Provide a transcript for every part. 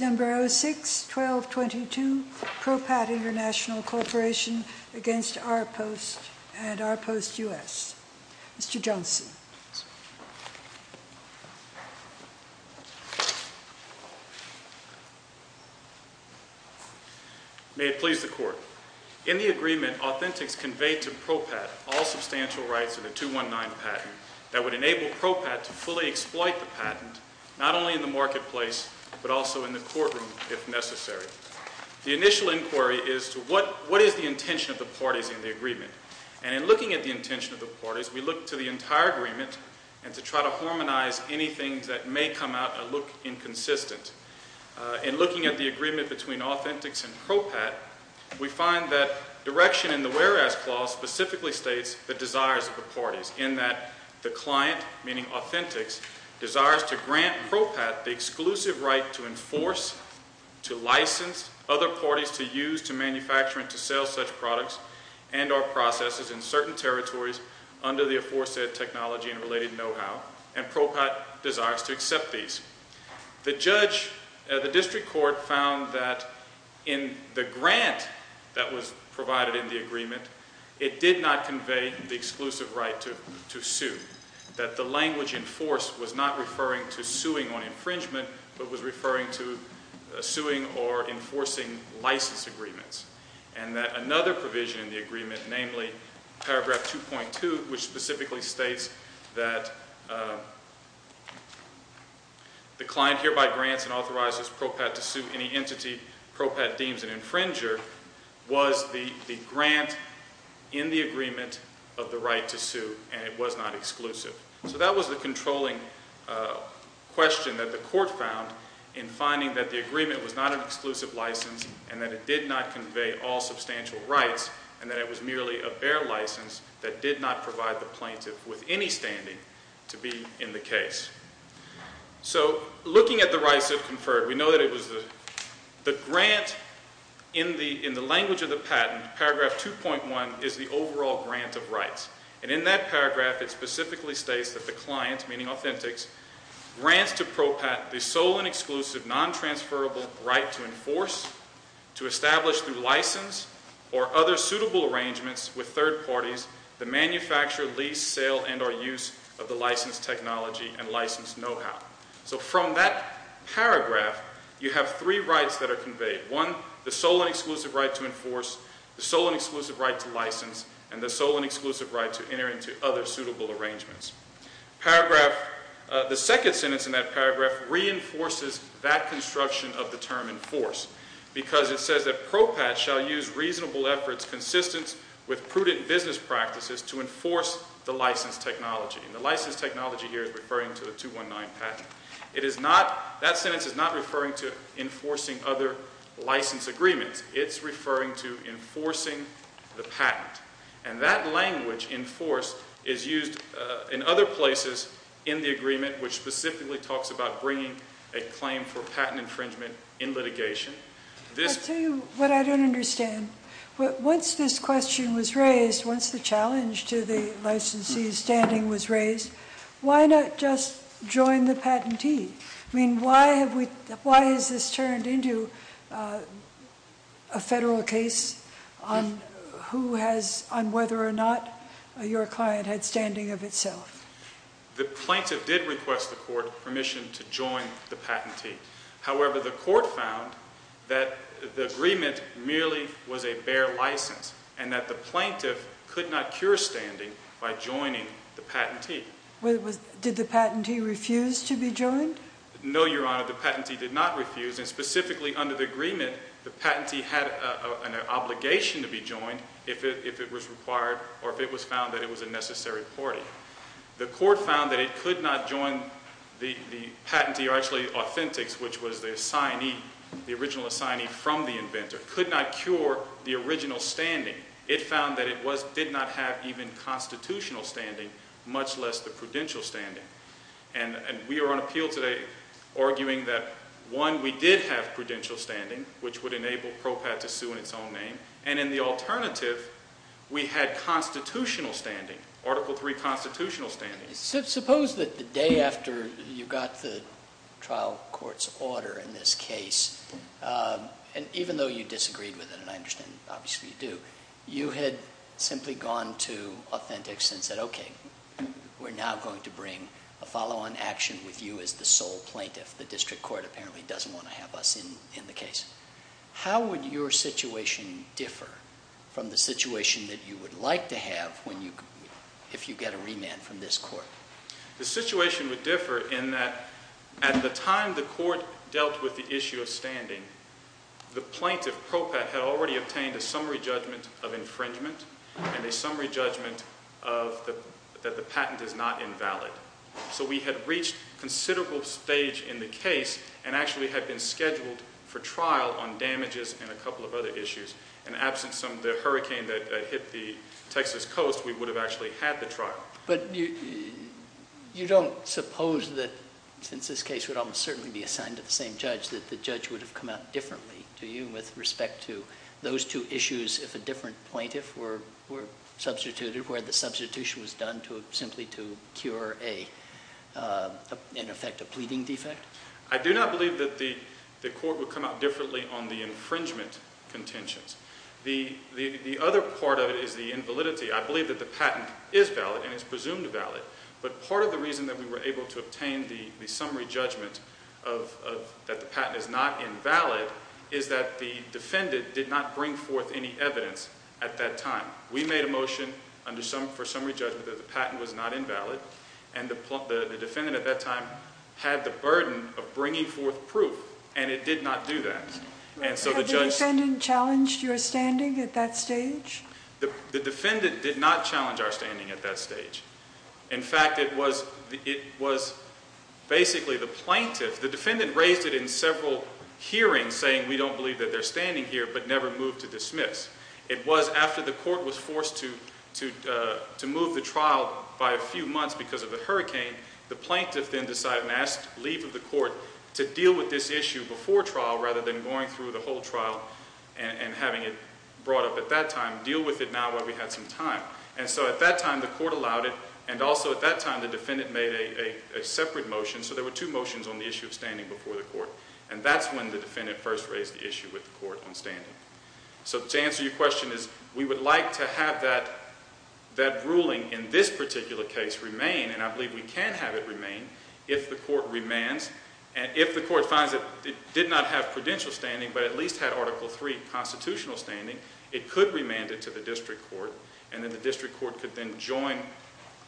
Number 06-1222, Propat International Corporation v. Rpost, U.S. Attorney General, Mr. Jones. May it please the Court. In the agreement, Authentics conveyed to Propat all substantial rights in the 219 patent that would enable Propat to fully exploit the patent not only in the marketplace but also in the courtroom if necessary. The initial inquiry is to what is the intention of the parties in the agreement? And in looking at the intention of the parties, we look to the entire agreement and to try to harmonize anything that may come out and look inconsistent. In looking at the agreement between Authentics and Propat, we find that direction in the whereas clause specifically states the desires of the parties in that the client, meaning Authentics, desires to grant Propat the exclusive right to enforce, to license other parties to use, to manufacture, and to sell such products and or processes in certain territories under the aforesaid technology and related know-how, and Propat desires to accept these. The judge, the district court, found that in the grant that was provided in the agreement, it did not convey the exclusive right to sue, that the language enforced was not referring to suing on infringement but was referring to suing or enforcing license agreements. And that another provision in the agreement, namely paragraph 2.2, which specifically states that the client hereby grants and authorizes Propat to sue any entity Propat deems an infringer, was the grant in the agreement of the right to sue and it was not exclusive. So that was the controlling question that the court found in finding that the agreement was not an exclusive license and that it did not convey all substantial rights and that it was merely a bare license that did not provide the plaintiff with any standing to be in the case. So looking at the rights of conferred, we know that it was the grant in the language of the patent, paragraph 2.1, is the overall grant of rights. And in that paragraph it specifically states that the client, meaning Authentics, grants to confer a right to enforce, to establish through license or other suitable arrangements with third parties the manufacture, lease, sale, and or use of the licensed technology and licensed know-how. So from that paragraph you have three rights that are conveyed. One, the sole and exclusive right to enforce, the sole and exclusive right to license, and the sole and exclusive right to enter into other suitable arrangements. Paragraph, the second sentence in that paragraph reinforces that construction of the term enforce because it says that PROPAT shall use reasonable efforts consistent with prudent business practices to enforce the licensed technology. And the licensed technology here is referring to the 219 patent. It is not, that sentence is not referring to enforcing other license agreements. It's referring to enforcing the patent. And that language, enforce, is used in other places in the agreement, which specifically talks about bringing a claim for patent infringement in litigation. This- I'll tell you what I don't understand. Once this question was raised, once the challenge to the licensee's standing was raised, why not just join the patentee? I mean, why have we, why has this turned into a federal case on who has, on whether or not your client had standing of itself? The plaintiff did request the court permission to join the patentee. However, the court found that the agreement merely was a bare license, and that the plaintiff could not cure standing by joining the patentee. Did the patentee refuse to be joined? No, Your Honor, the patentee did not refuse, and specifically under the agreement, the patentee had an obligation to be joined if it was required or if it was found that it was a necessary party. The court found that it could not join the patentee or actually authentics, which was the assignee, the original assignee from the inventor, could not cure the original standing. It found that it did not have even constitutional standing, much less the prudential standing. And we are on appeal today arguing that, one, we did have prudential standing, which would enable PROPAD to sue in its own name, and in the alternative, we had constitutional standing, Article III constitutional standing. Suppose that the day after you got the trial court's order in this case, and even though you disagreed with it, and I understand obviously you do, you had simply gone to authentics and said, okay, we're now going to bring a follow-on action with you as the sole plaintiff. The district court apparently doesn't want to have us in the case. How would your situation differ from the situation that you would like to have if you get a remand from this court? The situation would differ in that at the time the court dealt with the issue of standing, the plaintiff, PROPAD, had already obtained a summary judgment of infringement and a summary judgment that the patent is not invalid. So we had reached considerable stage in the case and actually had been scheduled for trial on damages and a couple of other issues. And absent some of the hurricane that hit the Texas coast, we would have actually had the trial. But you don't suppose that, since this case would almost certainly be assigned to the same judge, that the judge would have come out differently to you with respect to those two issues if a different plaintiff were substituted, where the substitution was done simply to cure a, in effect, a pleading defect? I do not believe that the court would come out differently on the infringement contentions. The other part of it is the invalidity. I believe that the patent is valid and is presumed valid, but part of the reason that we were able to obtain the summary judgment that the patent is not invalid is that the defendant did not bring forth any evidence at that time. We made a motion for summary judgment that the patent was not invalid, and the defendant at that time had the burden of bringing forth proof, and it did not do that. Had the defendant challenged your standing at that stage? The defendant did not challenge our standing at that stage. In fact, it was basically the plaintiff, the defendant raised it in several hearings saying, we don't believe that they're standing here, but never moved to dismiss. It was after the court was forced to move the trial by a few months because of the hurricane, the plaintiff then decided and asked leave of the court to deal with this issue before trial rather than going through the whole trial and having it brought up at that time, deal with it now while we had some time. And so at that time, the court allowed it, and also at that time, the defendant made a separate motion, so there were two motions on the issue of standing before the court, and that's when the defendant first raised the issue with the court on standing. So to answer your question is, we would like to have that ruling in this particular case remain, and I believe we can have it remain if the court remands, and if the court finds that it did not have prudential standing, but at least had Article III constitutional standing, it could remand it to the district court, and then the district court could then join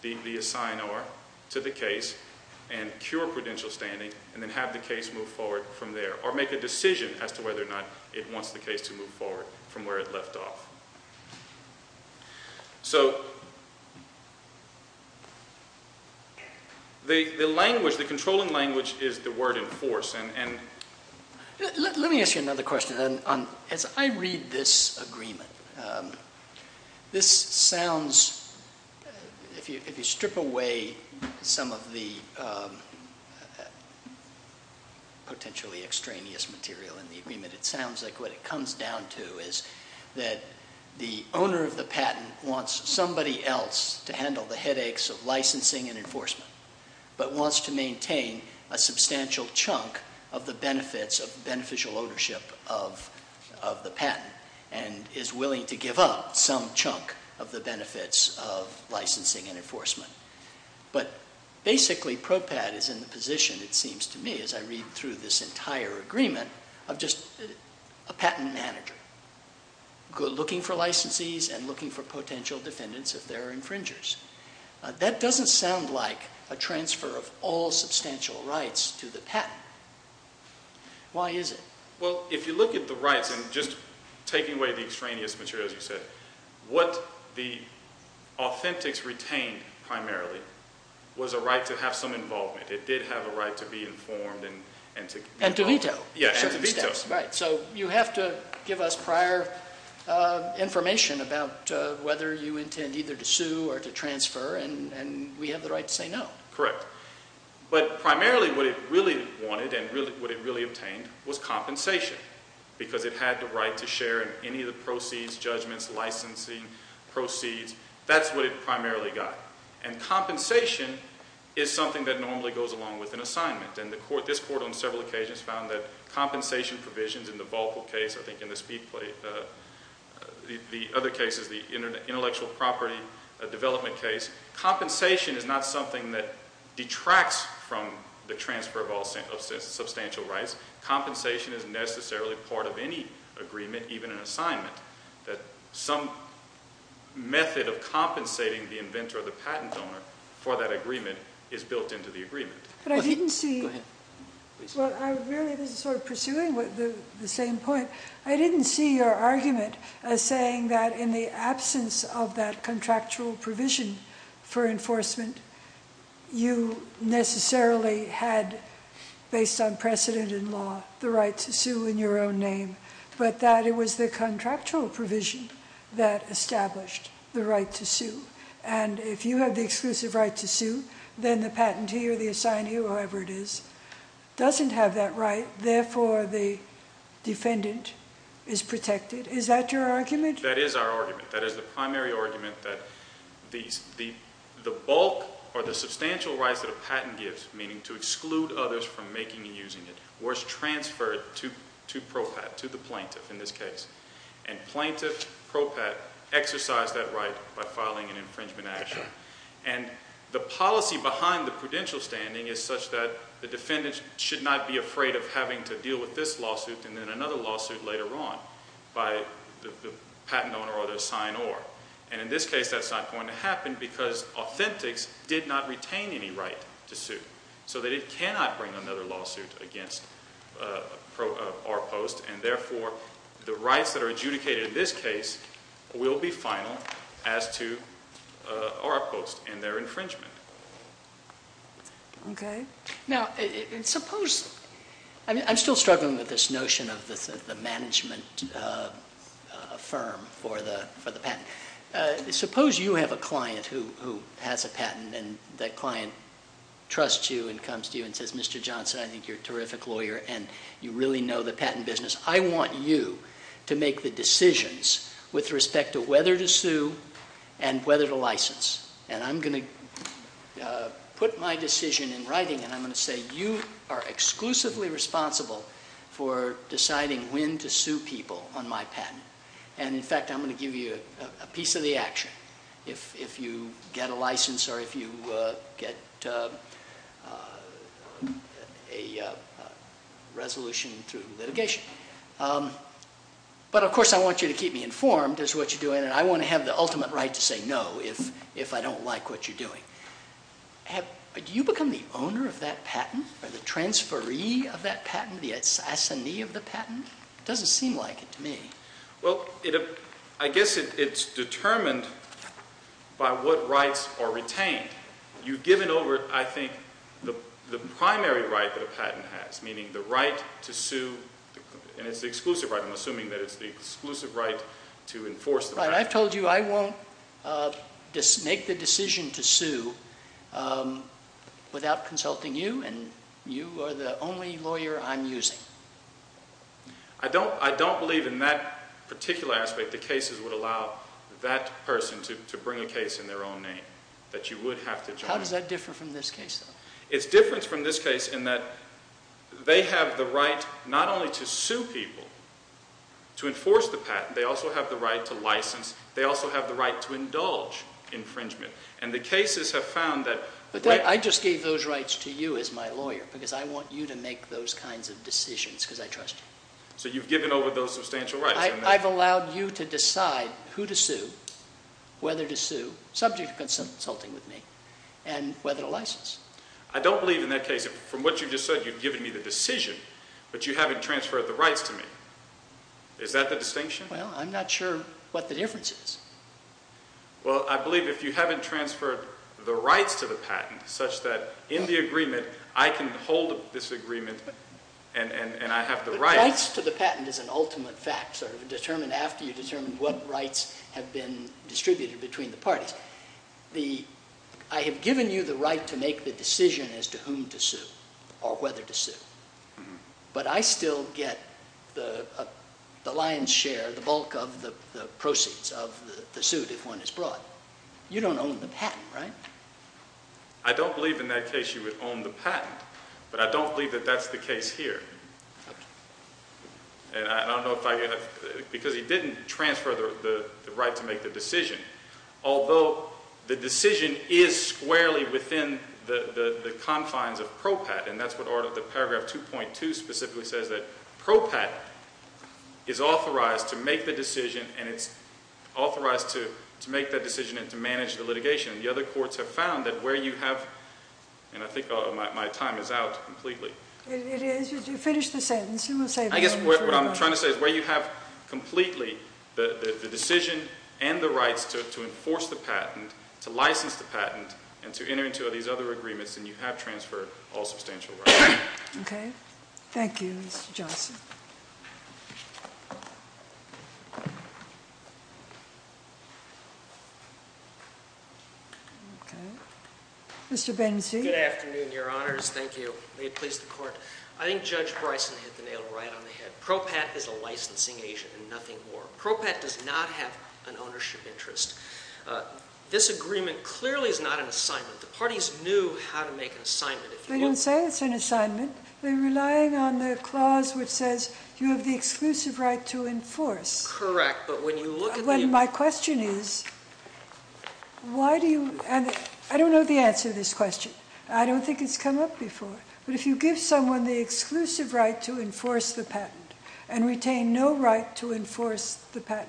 the assignor to the case and cure prudential standing, and then have the case move forward from there, or make a decision as to whether or not it wants the case to move forward from where it left off. So the language, the controlling language is the word in force, and... Let me ask you another question. As I read this agreement, this sounds, if you strip away some of the potentially extraneous material in the agreement, it sounds like what it comes down to is that the owner of the patent wants somebody else to handle the headaches of licensing and enforcement, but wants to maintain a substantial chunk of the benefits of beneficial ownership of the patent, and is willing to give up some chunk of the benefits of licensing and enforcement. But basically, PROPAD is in the position, it seems to me, as I read through this entire agreement, of just a patent manager, looking for licensees and looking for potential defendants of their infringers. That doesn't sound like a transfer of all substantial rights to the patent. Why is it? Well, if you look at the rights, and just taking away the extraneous materials you said, what the authentics retained, primarily, was a right to have some involvement. It did have a right to be informed, and to... And to veto. Yeah, and to veto. Right. So you have to give us prior information about whether you intend either to sue or to transfer, and we have the right to say no. Correct. But primarily what it really wanted, and what it really obtained, was compensation, because it had the right to share in any of the proceeds, judgments, licensing, proceeds. That's what it primarily got. And compensation is something that normally goes along with an assignment. And this Court, on several occasions, found that compensation provisions in the Volckl case, I think in the other cases, the intellectual property development case, compensation is not something that detracts from the transfer of all substantial rights. Compensation is necessarily part of any agreement, even an assignment, that some method of compensating the inventor or the patent owner for that agreement is built into the agreement. But I didn't see... Go ahead. Well, I really, this is sort of pursuing the same point. I didn't see your argument as saying that in the absence of that contractual provision for enforcement, you necessarily had, based on precedent in law, the right to sue in your own name, but that it was the contractual provision that established the right to sue. And if you have the exclusive right to sue, then the patentee or the assignee, whoever it is, doesn't have that right. Therefore, the defendant is protected. Is that your argument? That is our argument. That is the primary argument that the bulk or the substantial rights that a patent gives, meaning to exclude others from making and using it, was transferred to PROPAT, to the plaintiff in this case. And plaintiff, PROPAT, exercised that right by filing an infringement action. And the policy behind the prudential standing is such that the defendant should not be afraid of having to deal with this lawsuit and then another lawsuit later on by the patent owner or their sign or. And in this case, that's why we did not retain any right to sue, so that it cannot bring another lawsuit against our post. And therefore, the rights that are adjudicated in this case will be final as to our post and their infringement. Okay. Now, suppose, I'm still struggling with this notion of the management firm for the patent. Suppose you have a client who has a patent and that client trusts you and comes to you and says, Mr. Johnson, I think you're a terrific lawyer and you really know the patent business. I want you to make the decisions with respect to whether to sue and whether to license. And I'm going to put my decision in writing and I'm going to say, you are exclusively responsible for deciding when to sue people on my patent. And in fact, I'm going to give you a piece of the action if you get a license or if you get a resolution through litigation. But of course, I want you to keep me informed as to what you're doing and I want to have the ultimate right to say no if I don't like what you're doing. Do you become the owner of that patent or the transferee of that patent, the assassinee of the patent? It doesn't seem like it to me. Well, I guess it's determined by what rights are retained. You've given over, I think, the primary right that a patent has, meaning the right to sue. And it's the exclusive right. I'm assuming that it's the exclusive right to enforce the patent. I've told you I won't make the decision to sue without consulting you and you are the only lawyer I'm using. I don't believe in that particular aspect that cases would allow that person to bring a case in their own name, that you would have to join. How does that differ from this case, though? It's different from this case in that they have the right not only to sue people, to enforce the patent, they also have the right to license, they also have the right to indulge infringement. And the cases have found that... I just gave those rights to you as my lawyer because I want you to make those kinds of decisions, because I trust you. So you've given over those substantial rights. I've allowed you to decide who to sue, whether to sue, subject to consulting with me, and whether to license. I don't believe in that case, from what you just said, you've given me the decision, but you haven't transferred the rights to me. Is that the distinction? Well, I'm not sure what the difference is. Well, I believe if you haven't transferred the rights to the patent such that in the And I have the rights. The rights to the patent is an ultimate fact, sort of determined after you've determined what rights have been distributed between the parties. I have given you the right to make the decision as to whom to sue or whether to sue, but I still get the lion's share, the bulk of the proceeds of the suit if one is brought. You don't own the patent, right? I don't believe in that case you would own the patent, but I don't believe that that's the case here. And I don't know if I, because he didn't transfer the right to make the decision, although the decision is squarely within the confines of PROPAT, and that's what the paragraph 2.2 specifically says, that PROPAT is authorized to make the decision, and it's authorized to make that decision and to manage the litigation. The other courts have found that where you have, and I think my time is out completely. It is. You finished the sentence. I guess what I'm trying to say is where you have completely the decision and the rights to enforce the patent, to license the patent, and to enter into these other agreements, then you have transferred all substantial rights. Okay. Thank you, Mr. Johnson. Okay. Mr. Benzi? Good afternoon, Your Honors. Thank you. May it please the Court. I think Judge Bryson hit the nail right on the head. PROPAT is a licensing agent and nothing more. PROPAT does not have an ownership interest. This agreement clearly is not an assignment. The parties knew how to make an assignment. They don't say it's an assignment. They're relying on the clause which says you have the exclusive right to enforce. Correct, but when you look at the— When my question is, why do you—and I don't know the answer to this question. I don't think it's come up before, but if you give someone the exclusive right to enforce the patent and retain no right to enforce the patent,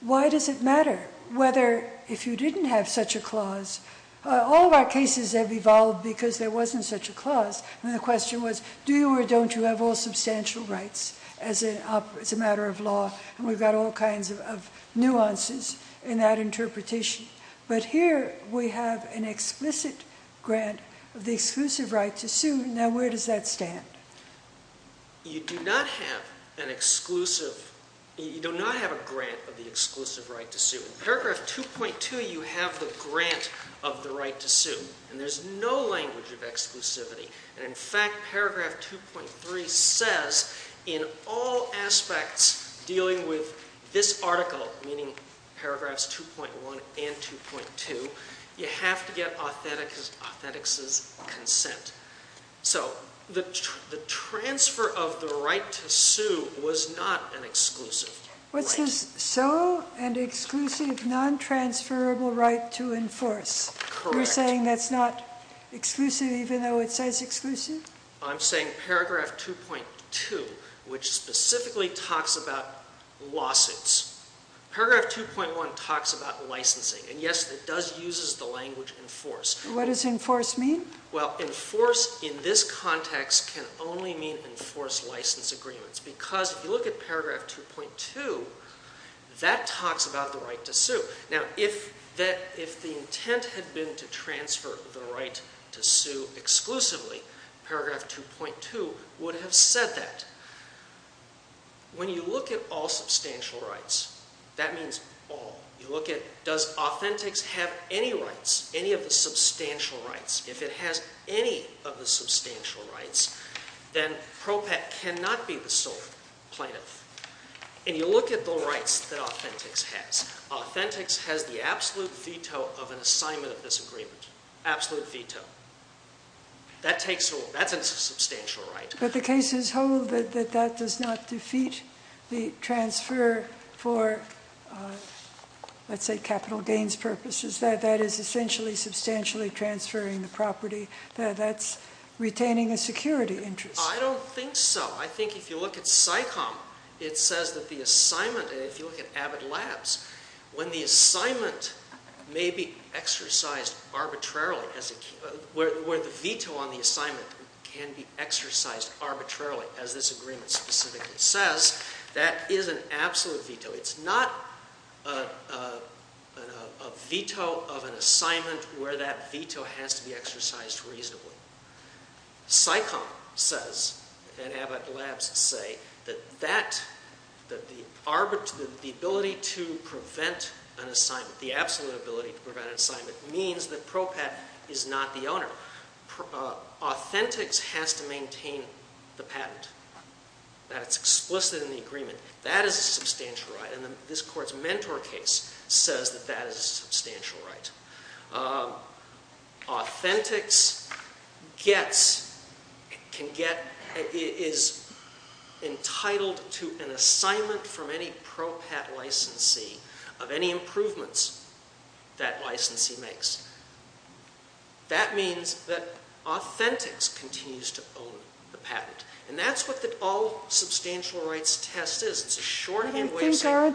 why does it matter whether, if you didn't have such a clause—all of our cases have evolved because there wasn't such a clause, and the question was, do you or don't you have all substantial rights as a matter of law, and we've got all kinds of nuances in that interpretation. But here, we have an explicit grant of the exclusive right to sue. Now, where does that stand? You do not have an exclusive—you do not have a grant of the exclusive right to sue. In paragraph 2.2, you have the grant of the right to sue, and there's no language of Dealing with this article, meaning paragraphs 2.1 and 2.2, you have to get authentics' consent. So, the transfer of the right to sue was not an exclusive right. What's this? So, an exclusive, non-transferable right to enforce. Correct. You're saying that's not exclusive even though it says exclusive? I'm saying paragraph 2.2, which specifically talks about lawsuits. Paragraph 2.1 talks about licensing, and yes, it does use the language enforce. What does enforce mean? Well, enforce in this context can only mean enforce license agreements, because if you look at paragraph 2.2, that talks about the right to sue. Now, if the intent had been to transfer the right to sue exclusively, paragraph 2.2 would have said that. When you look at all substantial rights, that means all. You look at, does Authentics have any rights, any of the substantial rights? If it has any of the substantial rights, then PROPET cannot be the sole plaintiff. And you look at the rights that Authentics has. Authentics has the absolute veto of an assignment of this agreement. Absolute veto. That's a substantial right. But the cases hold that that does not defeat the transfer for, let's say, capital gains purposes. That is essentially substantially transferring the property. That's retaining a security interest. I don't think so. I think if you look at SICOM, it says that the assignment, and if you look at Abbott Labs, when the assignment may be exercised arbitrarily, where the veto on the assignment can be exercised arbitrarily, as this agreement specifically says, that is an absolute veto. It's not a veto of an assignment where that veto has to be exercised reasonably. SICOM says, and Abbott Labs say, that the ability to prevent an assignment, the absolute ability to prevent an assignment, means that PROPET is not the owner. Authentics has to maintain the patent, that it's explicit in the agreement. That is a substantial right, and this Court's Mentor case says that that is a substantial right. Authentics is entitled to an assignment from any PROPET licensee of any improvements that licensee makes. That means that Authentics continues to own the patent. And that's what the all-substantial rights test is. It's a shorthand way of saying... It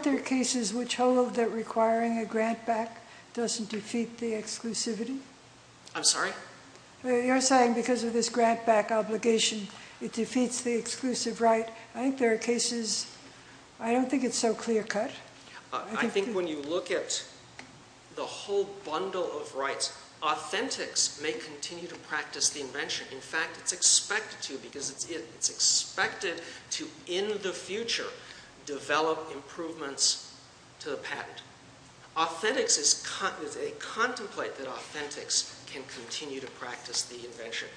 doesn't defeat the exclusivity? I'm sorry? You're saying because of this grant-back obligation, it defeats the exclusive right. I think there are cases... I don't think it's so clear-cut. I think when you look at the whole bundle of rights, Authentics may continue to practice the invention. In fact, it's expected to, because it's it. It's expected to, in the future, develop improvements to the patent. Authentics is... Contemplate that Authentics can continue to practice the invention.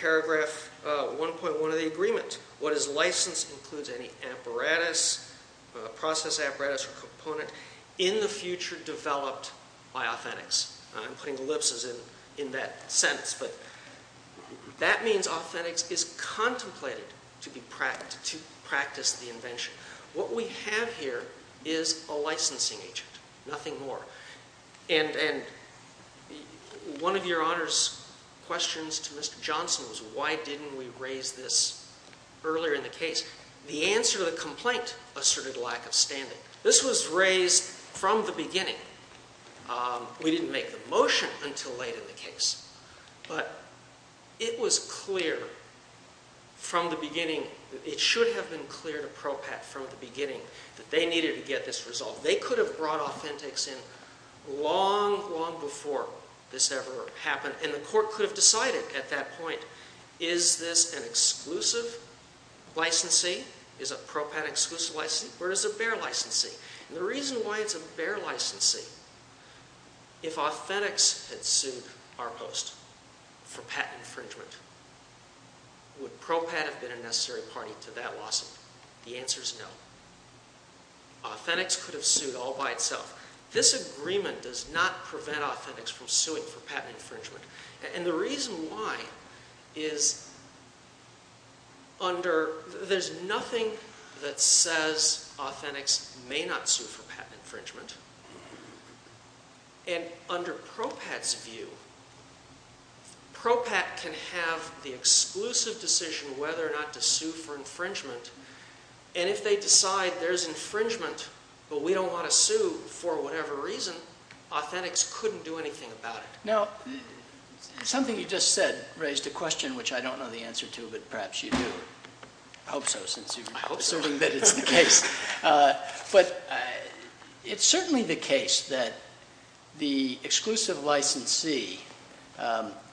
Paragraph 1.1 of the agreement. What is licensed includes any apparatus, process apparatus or component in the future developed by Authentics. I'm putting ellipses in that sentence. That means Authentics is contemplated to practice the invention. What we have here is a licensing agent. Nothing more. And one of your Honor's questions to Mr. Johnson was, why didn't we raise this earlier in the case? The answer to the complaint asserted lack of standing. This was raised from the beginning. We didn't make the motion until late in the case. But it was clear from the beginning. It should have been clear to PROPAT from the beginning that they needed to get this resolved. They could have brought Authentics in long, long before this ever happened. And the court could have decided at that point, is this an exclusive licensee? Is a PROPAT exclusive licensee? Or is it a bare licensee? The reason why it's a bare licensee, if Authentics had sued ARPOST for patent infringement, would PROPAT have been a necessary party to that lawsuit? The answer is no. Authentics could have sued all by itself. This agreement does not prevent Authentics from suing for patent infringement. And the reason why is there's nothing that says Authentics may not sue for patent infringement. And under PROPAT's view, PROPAT can have the exclusive decision whether or not to sue for infringement. And if they decide there's infringement, but we don't want to sue for whatever reason, Authentics couldn't do anything about it. Now, something you just said raised a question which I don't know the answer to, but perhaps you do. I hope so, since you're assuming that it's the case. But it's certainly the case that the exclusive licensee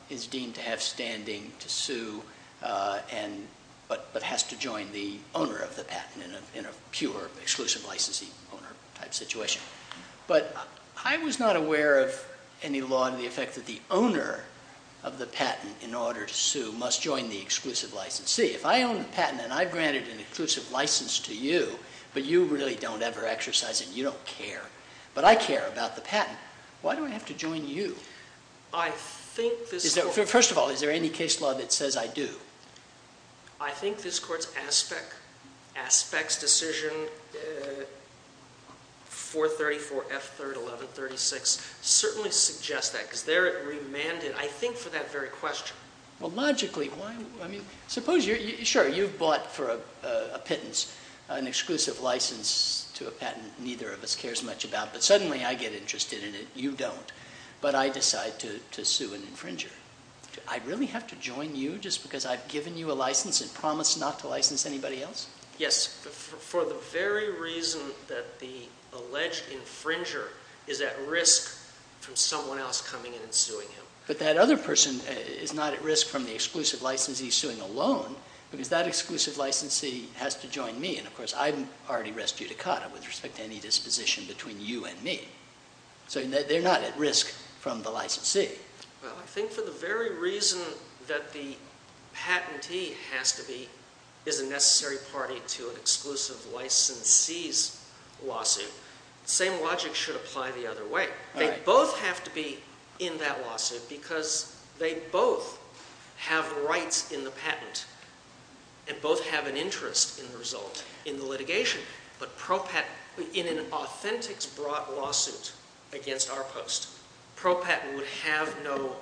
is deemed to have standing to sue, but has to join the owner of the patent in a pure exclusive licensee owner type situation. But I was not aware of any law to the effect that the owner of the patent in order to sue must join the exclusive licensee. If I own the patent and I've granted an exclusive license to you, but you really don't ever exercise it, and you don't care, but I care about the patent, why do I have to join you? First of all, is there any case law that says I do? I think this Court's Aspects Decision 434 F. 3rd 1136 certainly suggests that, because they're remanded, I think, for that very question. Well, logically, why? I mean, sure, you've bought for a pittance an exclusive license to a patent neither of us cares much about, but suddenly I get interested in it, you don't, but I decide to sue an infringer. Do I really have to join you just because I've given you a license and promised not to license anybody else? Yes, for the very reason that the alleged infringer is at risk from someone else coming in and suing him. But that other person is not at risk from the exclusive licensee suing alone, because that exclusive licensee has to join me, and, of course, I'm already res judicata with respect to any disposition between you and me. So they're not at risk from the licensee. Well, I think for the very reason that the patentee is a necessary party to an exclusive licensee's lawsuit, the same logic should apply the other way. They both have to be in that lawsuit because they both have rights in the patent and both have an interest in the result in the litigation. But in an authentic broad lawsuit against our post, ProPatent would have no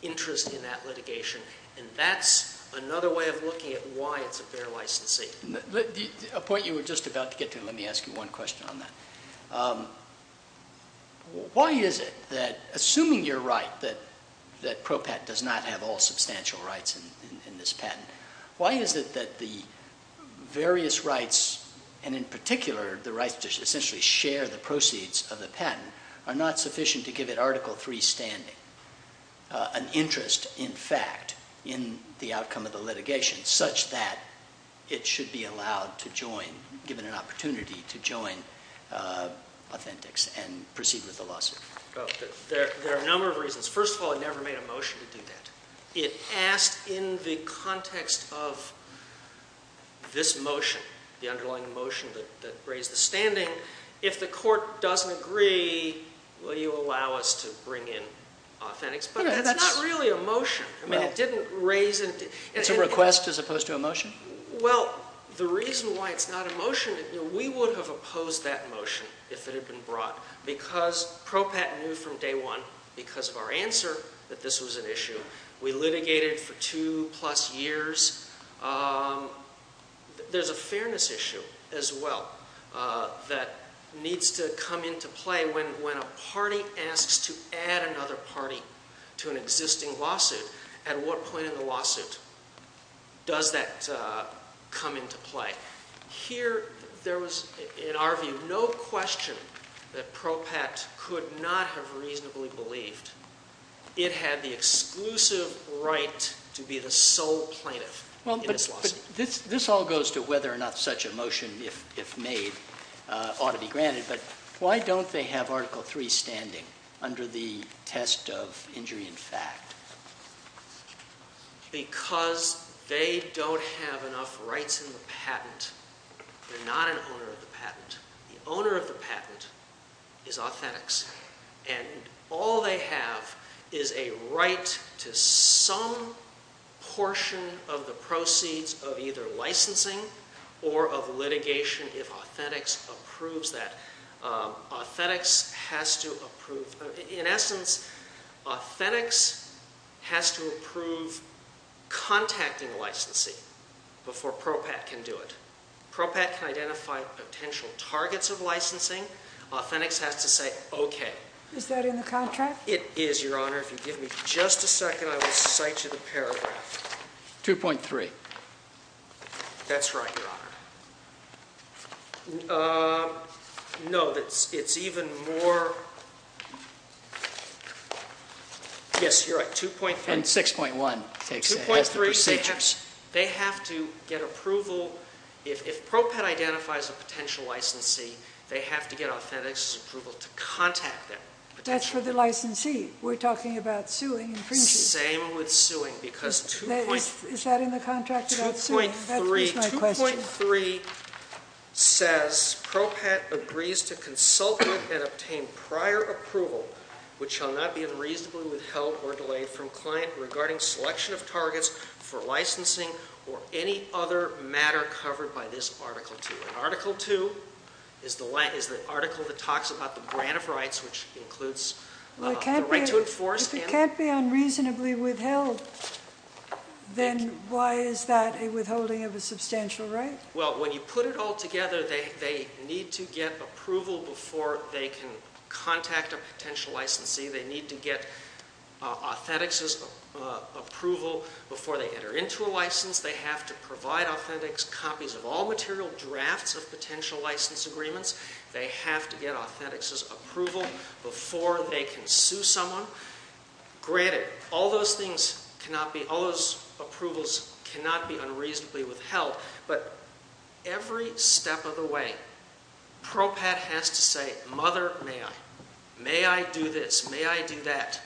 interest in that litigation, and that's another way of looking at why it's a bare licensee. A point you were just about to get to, let me ask you one question on that. Why is it that, assuming you're right that ProPatent does not have all substantial rights in this patent, why is it that the various rights, and in particular the rights to essentially share the proceeds of the patent, are not sufficient to give it Article III standing, an interest, in fact, in the outcome of the litigation, such that it should be allowed to join, given an opportunity to join Authentics and proceed with the lawsuit? There are a number of reasons. First of all, it never made a motion to do that. It asked in the context of this motion, the underlying motion that raised the standing, if the court doesn't agree, will you allow us to bring in Authentics? But that's not really a motion. I mean, it didn't raise it. It's a request as opposed to a motion? Well, the reason why it's not a motion, we would have opposed that motion if it had been brought because ProPatent knew from day one, because of our answer, that this was an issue. We litigated for two-plus years. There's a fairness issue as well that needs to come into play. When a party asks to add another party to an existing lawsuit, at what point in the lawsuit does that come into play? Here, there was, in our view, no question that ProPat could not have reasonably believed it had the exclusive right to be the sole plaintiff in this lawsuit. This all goes to whether or not such a motion, if made, ought to be granted, but why don't they have Article III standing under the test of injury in fact? Because they don't have enough rights in the patent. They're not an owner of the patent. The owner of the patent is Authentics. And all they have is a right to some portion of the proceeds of either licensing or of litigation if Authentics approves that. In essence, Authentics has to approve contacting licensing before ProPat can do it. ProPat can identify potential targets of licensing. Authentics has to say, okay. Is that in the contract? It is, Your Honor. If you give me just a second, I will cite you the paragraph. 2.3. That's right, Your Honor. No, it's even more. Yes, you're right. 2.3. And 6.1 has the procedures. 2.3, they have to get approval. If ProPat identifies a potential licensee, they have to get Authentics' approval to contact them. That's for the licensee. We're talking about suing and freezing. Same with suing because 2.3. Is that in the contract about suing? 2.3. That was my question. 2.3 says ProPat agrees to consult with and obtain prior approval, which shall not be unreasonably withheld or delayed from client regarding selection of targets for licensing or any other matter covered by this Article 2. Article 2 is the article that talks about the grant of rights, which includes the right to enforce. If it can't be unreasonably withheld, then why is that a withholding of a substantial right? Well, when you put it all together, they need to get approval before they can contact a potential licensee. They need to get Authentics' approval before they enter into a license. They have to provide Authentics copies of all material drafts of potential license agreements. They have to get Authentics' approval before they can sue someone. Granted, all those approvals cannot be unreasonably withheld, but every step of the way, ProPat has to say, Mother, may I? May I do this? May I do that?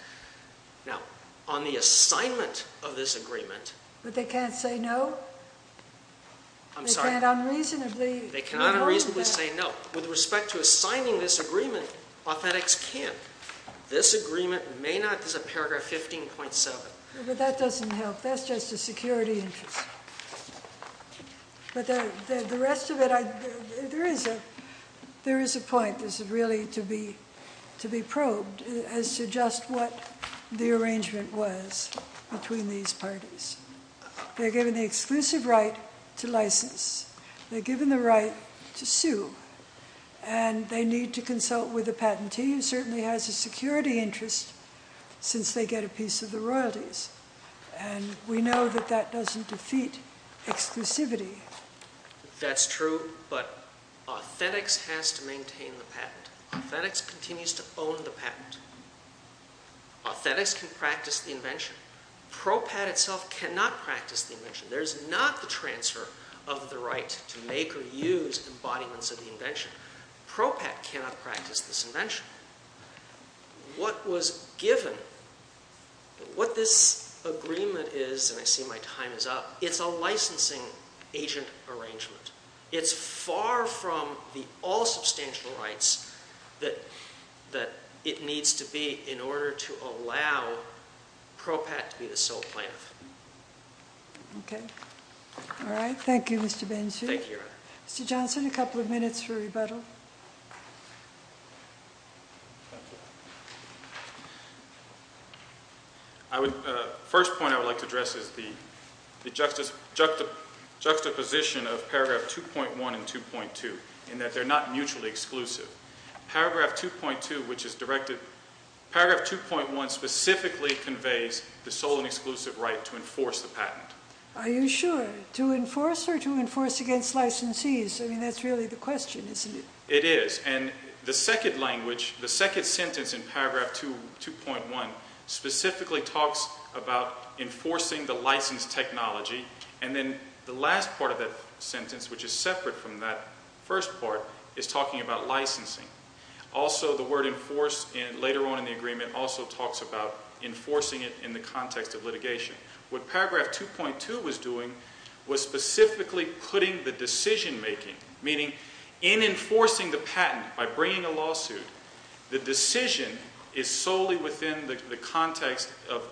Now, on the assignment of this agreement... But they can't say no? I'm sorry. They can't unreasonably withhold that? They cannot unreasonably say no. With respect to assigning this agreement, Authentics can. This agreement may not. This is a paragraph 15.7. But that doesn't help. That's just a security interest. But the rest of it, there is a point. This is really to be probed as to just what the arrangement was between these parties. They're given the exclusive right to license. They're given the right to sue. And they need to consult with a patentee who certainly has a security interest since they get a piece of the royalties. And we know that that doesn't defeat exclusivity. That's true, but Authentics has to maintain the patent. Authentics continues to own the patent. Authentics can practice the invention. ProPat itself cannot practice the invention. There is not the transfer of the right to make or use embodiments of the invention. ProPat cannot practice this invention. What was given, what this agreement is, and I see my time is up, it's a licensing agent arrangement. It's far from the all substantial rights that it needs to be in order to allow ProPat to be the sole plaintiff. Okay. All right. Thank you, Mr. Bainsfield. Thank you, Your Honor. Mr. Johnson, a couple of minutes for rebuttal. Thank you. First point I would like to address is the juxtaposition of paragraph 2.1 and 2.2 in that they're not mutually exclusive. Paragraph 2.2, which is directed, paragraph 2.1 specifically conveys the sole and exclusive right to enforce the patent. Are you sure? To enforce or to enforce against licensees? I mean, that's really the question, isn't it? It is. And the second language, the second sentence in paragraph 2.1 specifically talks about enforcing the license technology, and then the last part of that sentence, which is separate from that first part, is talking about licensing. Also, the word enforce later on in the agreement also talks about enforcing it in the context of litigation. What paragraph 2.2 was doing was specifically putting the decision-making, meaning in enforcing the patent by bringing a lawsuit, the decision is solely within the context of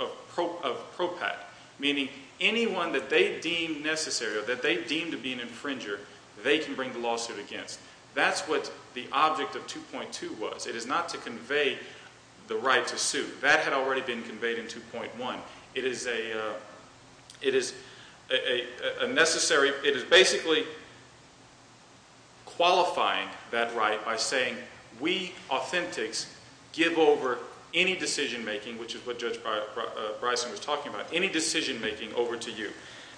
propat, meaning anyone that they deem necessary or that they deem to be an infringer, they can bring the lawsuit against. That's what the object of 2.2 was. It is not to convey the right to sue. That had already been conveyed in 2.1. It is a necessary, it is basically qualifying that right by saying we authentics give over any decision-making, which is what Judge Bryson was talking about, any decision-making over to you.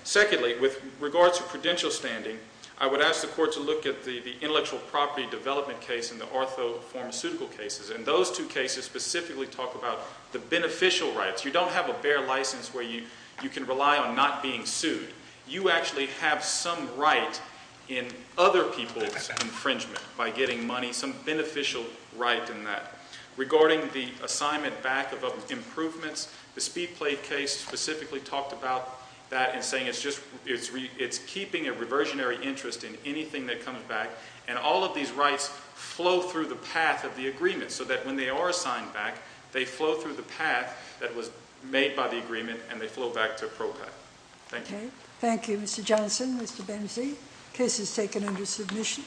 Secondly, with regards to prudential standing, I would ask the Court to look at the intellectual property development case and the orthopharmaceutical cases, and those two cases specifically talk about the beneficial rights. You don't have a bare license where you can rely on not being sued. You actually have some right in other people's infringement by getting money, some beneficial right in that. Regarding the assignment back of improvements, the Speed Plate case specifically talked about that in saying it's keeping a reversionary interest in anything that comes back, and all of these rights flow through the path of the agreement so that when they are assigned back, they flow through the path that was made by the agreement and they flow back to PROCAT. Thank you. Thank you, Mr. Johnson. Mr. Benzie. Case is taken under submission.